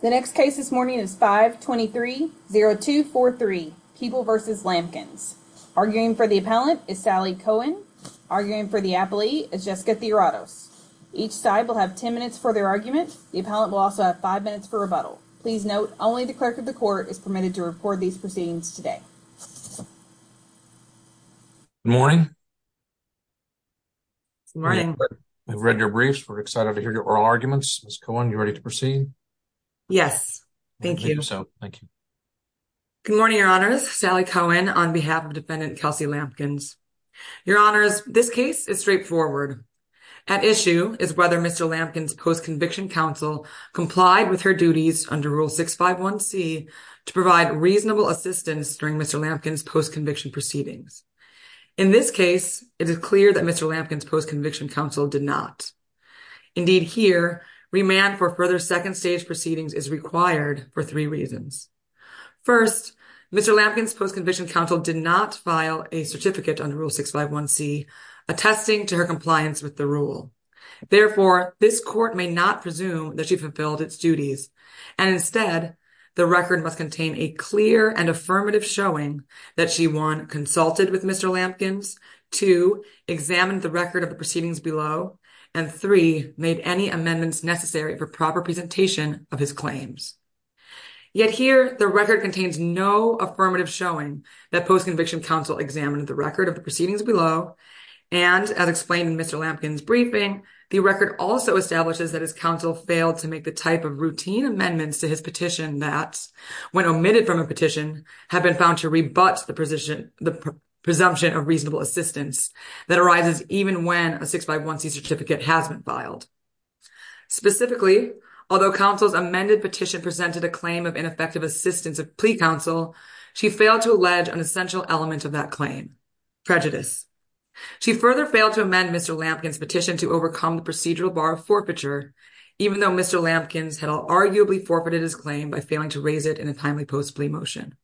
The next case this morning is 523-0243, People v. Lampkins. Arguing for the appellant is Sally Cohen. Arguing for the appellee is Jessica Theoratos. Each side will have 10 minutes for their argument. The appellant will also have 5 minutes for rebuttal. Please note, only the clerk of the court is permitted to record these proceedings today. Good morning. Good morning. We've read your briefs. We're excited to hear your oral arguments. Ms. Cohen, are you ready to proceed? Yes. Thank you. Good morning, Your Honors. Sally Cohen on behalf of Defendant Kelsey Lampkins. Your Honors, this case is straightforward. At issue is whether Mr. Lampkins' post-conviction counsel complied with her duties under Rule 651C to provide reasonable assistance during Mr. Lampkins' post-conviction proceedings. In this case, it is clear that Mr. Lampkins' post-conviction counsel did not. Indeed, here, remand for further second-stage proceedings is required for three reasons. First, Mr. Lampkins' post-conviction counsel did not file a certificate under Rule 651C attesting to her compliance with the rule. Therefore, this court may not presume that she fulfilled its duties, and instead, the record must contain a clear and affirmative showing that she 1. consulted with Mr. Lampkins, 2. examined the record of the proceedings below, and 3. made any amendments necessary for proper presentation of his claims. Yet here, the record contains no affirmative showing that post-conviction counsel examined the record of the proceedings below, and as explained in Mr. Lampkins' briefing, the record also establishes that his counsel failed to make the type of routine amendments to his petition that, when omitted from a petition, have been found to rebut the presumption of reasonable assistance that arises even when a 651C certificate has been filed. Specifically, although counsel's amended petition presented a claim of ineffective assistance of plea counsel, she failed to allege an essential element of that claim—prejudice. She further failed to amend Mr. Lampkins' petition to overcome the procedural bar of forfeiture, even though Mr. Lampkins had arguably forfeited his claim by failing to raise it in a timely post-plea motion.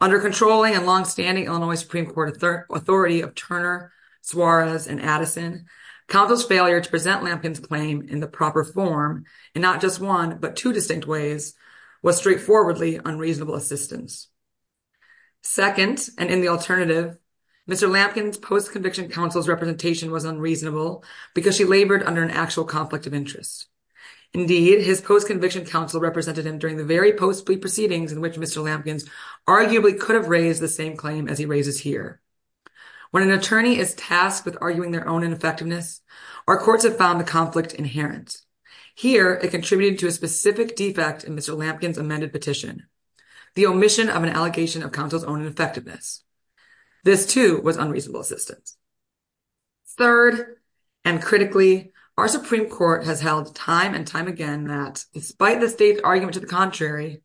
Under controlling and long-standing Illinois Supreme Court authority of Turner, Suarez, and Addison, counsel's failure to present Lampkins' claim in the proper form, in not just one but two distinct ways, was straightforwardly unreasonable assistance. Second, and in the alternative, Mr. Lampkins' post-conviction counsel's representation was unreasonable because she labored under an actual conflict of interest. Indeed, his post-conviction counsel represented him during the very post-plea proceedings in which Mr. Lampkins arguably could have raised the same claim as he raises here. When an attorney is tasked with arguing their own ineffectiveness, our courts have found the conflict inherent. Here, it contributed to a specific defect in Mr. Lampkins' amended petition— the omission of an allegation of counsel's own ineffectiveness. This, too, was unreasonable assistance. Third, and critically, our Supreme Court has held time and time again that, despite the state's argument to the contrary,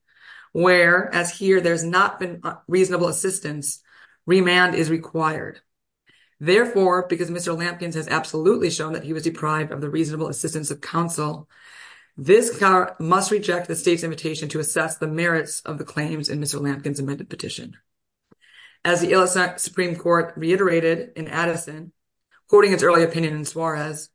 where, as here, there has not been reasonable assistance, remand is required. Therefore, because Mr. Lampkins has absolutely shown that he was deprived of the reasonable assistance of counsel, this Court must reject the state's invitation to assess the merits of the claims in Mr. Lampkins' amended petition. As the U.S. Supreme Court reiterated in Addison, quoting its early opinion in Suarez,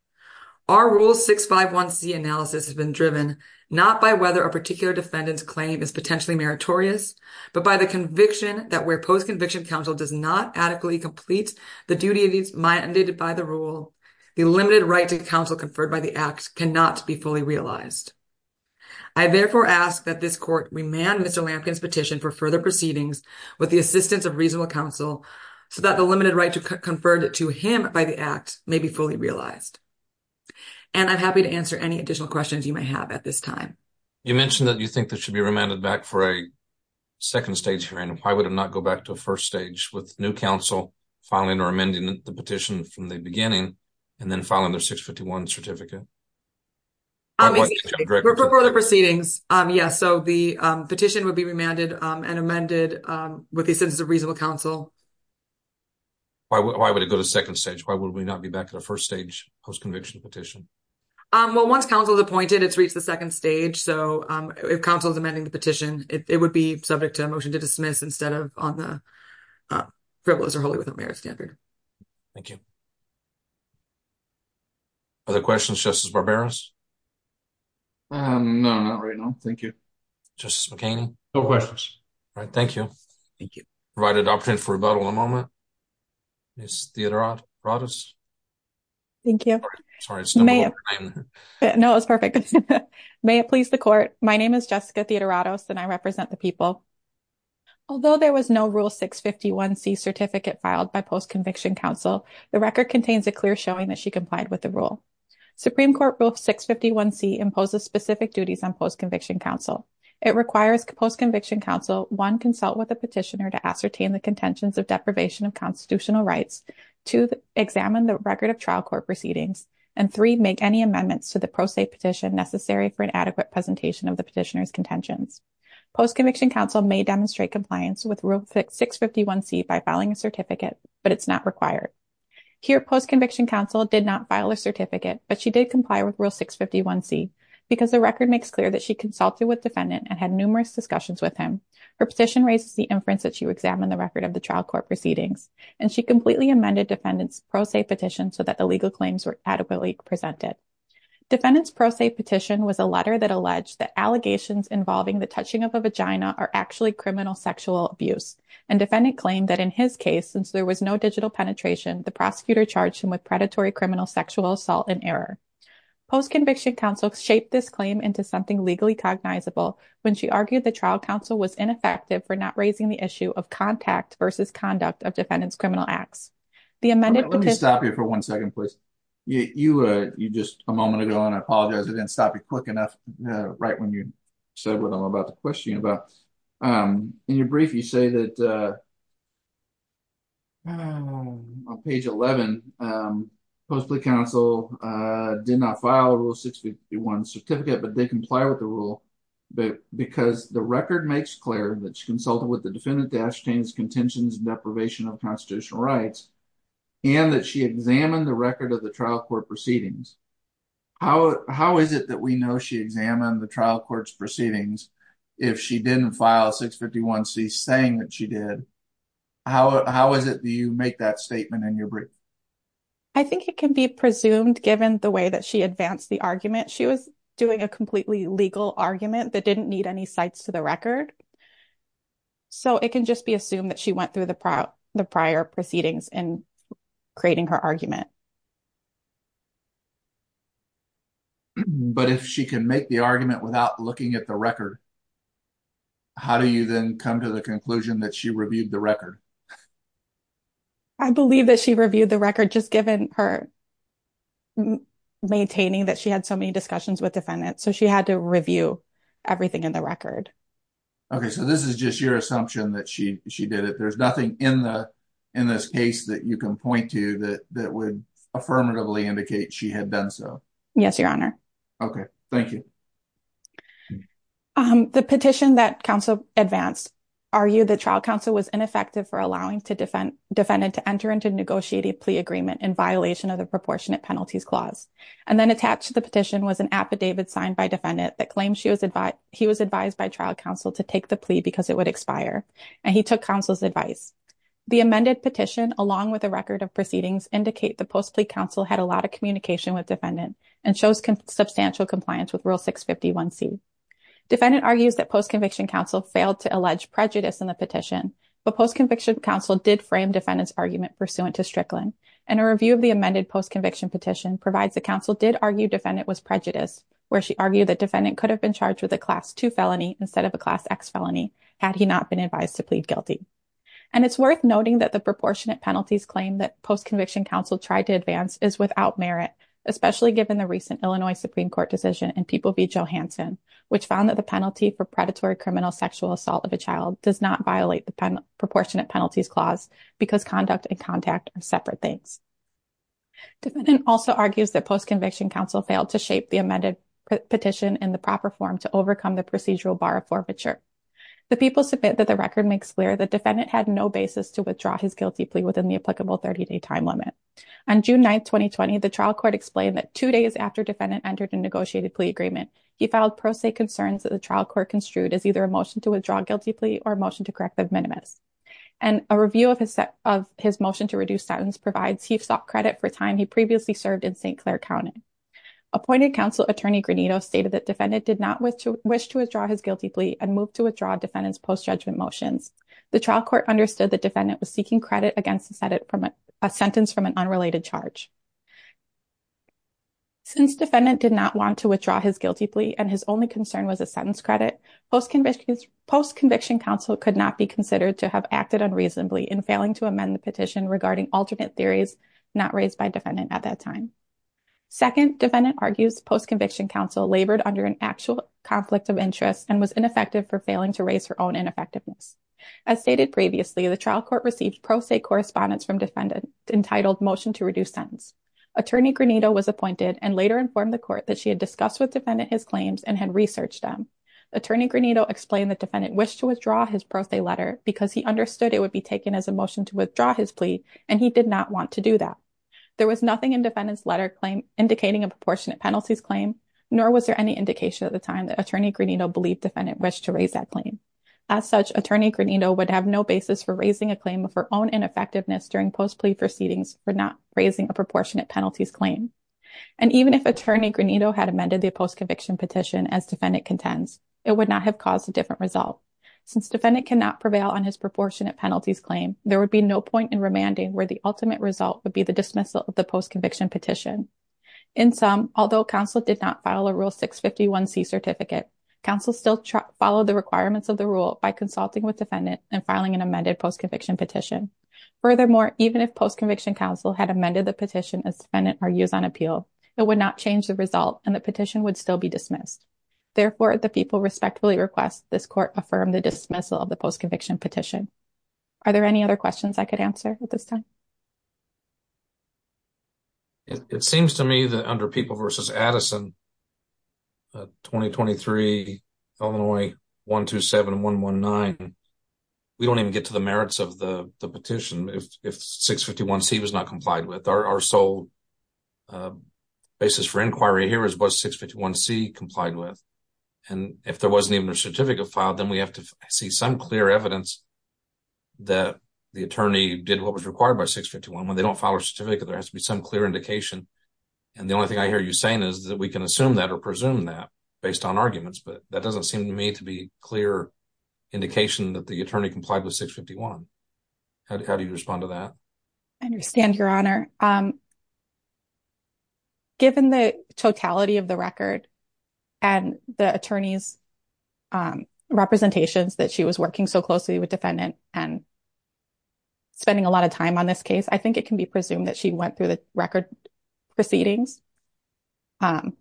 our Rule 651c analysis has been driven not by whether a particular defendant's claim is potentially meritorious, but by the conviction that where post-conviction counsel does not adequately complete the duties mandated by the rule, the limited right to counsel conferred by the Act cannot be fully realized. I therefore ask that this Court remand Mr. Lampkins' petition for further proceedings with the assistance of reasonable counsel so that the limited right conferred to him by the Act may be fully realized. And I'm happy to answer any additional questions you may have at this time. You mentioned that you think this should be remanded back for a second stage hearing. Why would it not go back to a first stage with new counsel filing or amending the petition from the beginning and then filing their 651 certificate? For further proceedings, yes. So the petition would be remanded and amended with the assistance of reasonable counsel. Why would it go to a second stage? Why would we not be back at a first stage post-conviction petition? Well, once counsel is appointed, it's reached the second stage. So if counsel is amending the petition, it would be subject to a motion to dismiss instead of on the Frivolous or Holy Without Merit standard. Thank you. Other questions, Justice Barberos? No, not right now. Thank you. Justice McKinney? No questions. All right. Thank you. Thank you. Provided opportunity for rebuttal in a moment. Ms. Theodoratos? Thank you. Sorry, it's been a long time. No, it was perfect. May it please the Court. My name is Jessica Theodoratos, and I represent the people. Although there was no Rule 651C certificate filed by post-conviction counsel, the record contains a clear showing that she complied with the rule. Supreme Court Rule 651C imposes specific duties on post-conviction counsel. It requires post-conviction counsel, one, consult with the petitioner to ascertain the contentions of deprivation of constitutional rights, two, examine the record of trial court proceedings, and three, make any amendments to the pro se petition necessary for an adequate presentation of the petitioner's contentions. Post-conviction counsel may demonstrate compliance with Rule 651C by filing a certificate, but it's not required. Here, post-conviction counsel did not file a certificate, but she did comply with Rule 651C because the record makes clear that she consulted with defendant and had numerous discussions with him. Her petition raises the inference that she examined the record of the trial court proceedings, and she completely amended defendant's pro se petition so that the legal claims were adequately presented. Defendant's pro se petition was a letter that alleged that allegations involving the touching of a vagina are actually criminal sexual abuse, and defendant claimed that in his case, since there was no digital penetration, the prosecutor charged him with predatory criminal sexual assault and error. Post-conviction counsel shaped this claim into something legally cognizable when she argued the defendant's criminal acts. The amended petition... Let me stop you for one second, please. You just a moment ago, and I apologize. I didn't stop you quick enough right when you said what I'm about to question you about. In your brief, you say that on page 11, post-conviction counsel did not file a Rule 651 certificate, but they comply with the rule because the record makes clear that she consulted with constitutional rights and that she examined the record of the trial court proceedings. How is it that we know she examined the trial court's proceedings if she didn't file a 651C saying that she did? How is it that you make that statement in your brief? I think it can be presumed, given the way that she advanced the argument. She was doing a completely legal argument that didn't need any sites to the record, so it can just be assumed that she went through the prior proceedings in creating her argument. But if she can make the argument without looking at the record, how do you then come to the conclusion that she reviewed the record? I believe that she reviewed the record just given her maintaining that she had so many discussions with defendants, so she had to review everything in the record. Okay, so this is just your assumption that she did it. There's nothing in this case that you can point to that would affirmatively indicate she had done so. Yes, Your Honor. Okay, thank you. The petition that counsel advanced argued that trial counsel was ineffective for allowing the defendant to enter into a negotiated plea agreement in violation of the Proportionate Penalties Clause, and then attached to the petition was an affidavit signed by a defendant that claims he was advised by trial counsel to take the plea because it would expire, and he took counsel's advice. The amended petition, along with a record of proceedings, indicate the post-plea counsel had a lot of communication with defendant and chose substantial compliance with Rule 651C. Defendant argues that post-conviction counsel failed to allege prejudice in the petition, but post-conviction counsel did frame defendant's argument pursuant to Strickland. And a review of the amended post-conviction petition provides the counsel did argue defendant was prejudiced, where she argued that defendant could have been charged with a Class II felony instead of a Class X felony had he not been advised to plead guilty. And it's worth noting that the proportionate penalties claim that post-conviction counsel tried to advance is without merit, especially given the recent Illinois Supreme Court decision in People v. Johanson, which found that the penalty for predatory criminal sexual assault of a child does not violate the Proportionate Penalties Clause because conduct and contact are separate things. Defendant also argues that post-conviction counsel failed to shape the amended petition in the proper form to overcome the procedural bar of forfeiture. The People submit that the record makes clear that defendant had no basis to withdraw his guilty plea within the applicable 30-day time limit. On June 9, 2020, the trial court explained that two days after defendant entered a negotiated plea agreement, he filed pro se concerns that the trial court construed as either a motion to withdraw guilty plea or a motion to correct the minimus. A review of his motion to reduce sentence provides he sought credit for time he previously served in St. Clair County. Appointed counsel attorney Granito stated that defendant did not wish to withdraw his guilty plea and moved to withdraw defendant's post-judgment motions. The trial court understood that defendant was seeking credit against a sentence from an unrelated charge. Since defendant did not want to withdraw his guilty plea and his only concern was a sentence credit, post-conviction counsel could not be considered to have acted unreasonably in failing to amend the petition regarding alternate theories not raised by defendant at that time. Second, defendant argues post-conviction counsel labored under an actual conflict of interest and was ineffective for failing to raise her own ineffectiveness. As stated previously, the trial court received pro se correspondence from defendant entitled motion to reduce sentence. Attorney Granito was appointed and later informed the court that she had discussed with defendant his claims and had researched them. Attorney Granito explained that defendant wished to withdraw his pro se letter because he understood it would be taken as a motion to withdraw his plea and he did not want to do that. There was nothing in defendant's letter claim indicating a proportionate penalties claim nor was there any indication at the time that attorney Granito believed defendant wished to raise that claim. As such, attorney Granito would have no basis for raising a claim of her own ineffectiveness during post-plea proceedings for not raising a proportionate penalties claim. And even if attorney Granito had amended the post-conviction petition as defendant contends, it would not have caused a different result. Since defendant cannot prevail on his proportionate penalties claim, there would be no point in remanding where the ultimate result would be the dismissal of the post-conviction petition. In sum, although counsel did not file a Rule 651C certificate, counsel still followed the requirements of the rule by consulting with defendant and filing an amended post-conviction petition. Furthermore, even if post-conviction counsel had amended the petition as defendant argues on appeal, it would not change the result and the petition would still be dismissed. Therefore, the people respectfully request this court affirm the dismissal of the post-conviction petition. Are there any other questions I could answer at this time? It seems to me that under People v. Addison, 2023 Illinois 127-119, we don't even get to the merits of the petition if 651C was not complied with. Our sole basis for inquiry here is was 651C complied with? And if there wasn't even a certificate filed, then we have to see some clear evidence that the attorney did what was required by 651. When they don't file a certificate, there has to be some clear indication. And the only thing I hear you saying is that we can assume that or presume that based on arguments. But that doesn't seem to me to be a clear indication that the attorney complied with 651. How do you respond to that? I understand, Your Honor. Given the totality of the record and the attorney's representations that she was working so closely with the defendant and spending a lot of time on this case, I think it can be presumed that she went through the record proceedings. I'm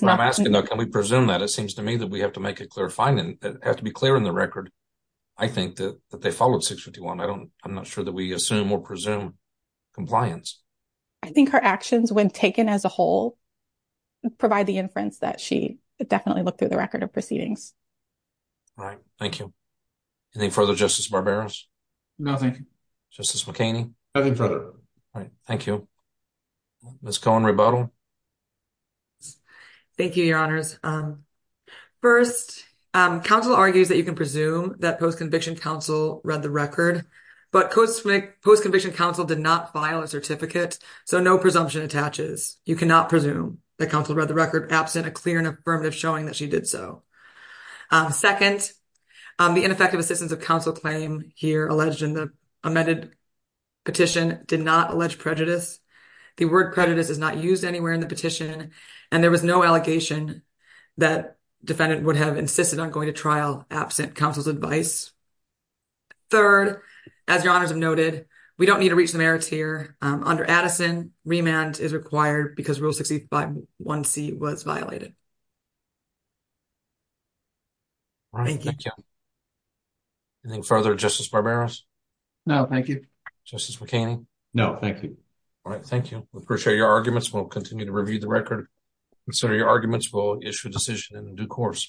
asking, though, can we presume that? It seems to me that we have to make a clear finding. It has to be clear in the record, I think, that they followed 651. I'm not sure that we assume or presume compliance. I think her actions, when taken as a whole, provide the inference that she definitely looked through the record of proceedings. Right. Thank you. Anything further, Justice Barberos? No, thank you. Justice McKinney? Nothing further. All right. Thank you. Ms. Cohen-Rebuttal? Thank you, Your Honors. First, counsel argues that you can presume that post-conviction counsel read the record, but post-conviction counsel did not file a certificate, so no presumption attaches. You cannot presume that counsel read the record absent a clear and affirmative showing that she did so. Second, the ineffective assistance of counsel claim here alleged in the The word credit is not used anywhere in the petition, and there was no allegation that defendant would have insisted on going to trial absent counsel's advice. Third, as Your Honors have noted, we don't need to reach the merits here. Under Addison, remand is required because Rule 651C was violated. Thank you. Thank you. Anything further, Justice Barberos? No, thank you. Justice McKinney? No, thank you. All right, thank you. We appreciate your arguments. We'll continue to review the record. Consider your arguments. We'll issue a decision in due course.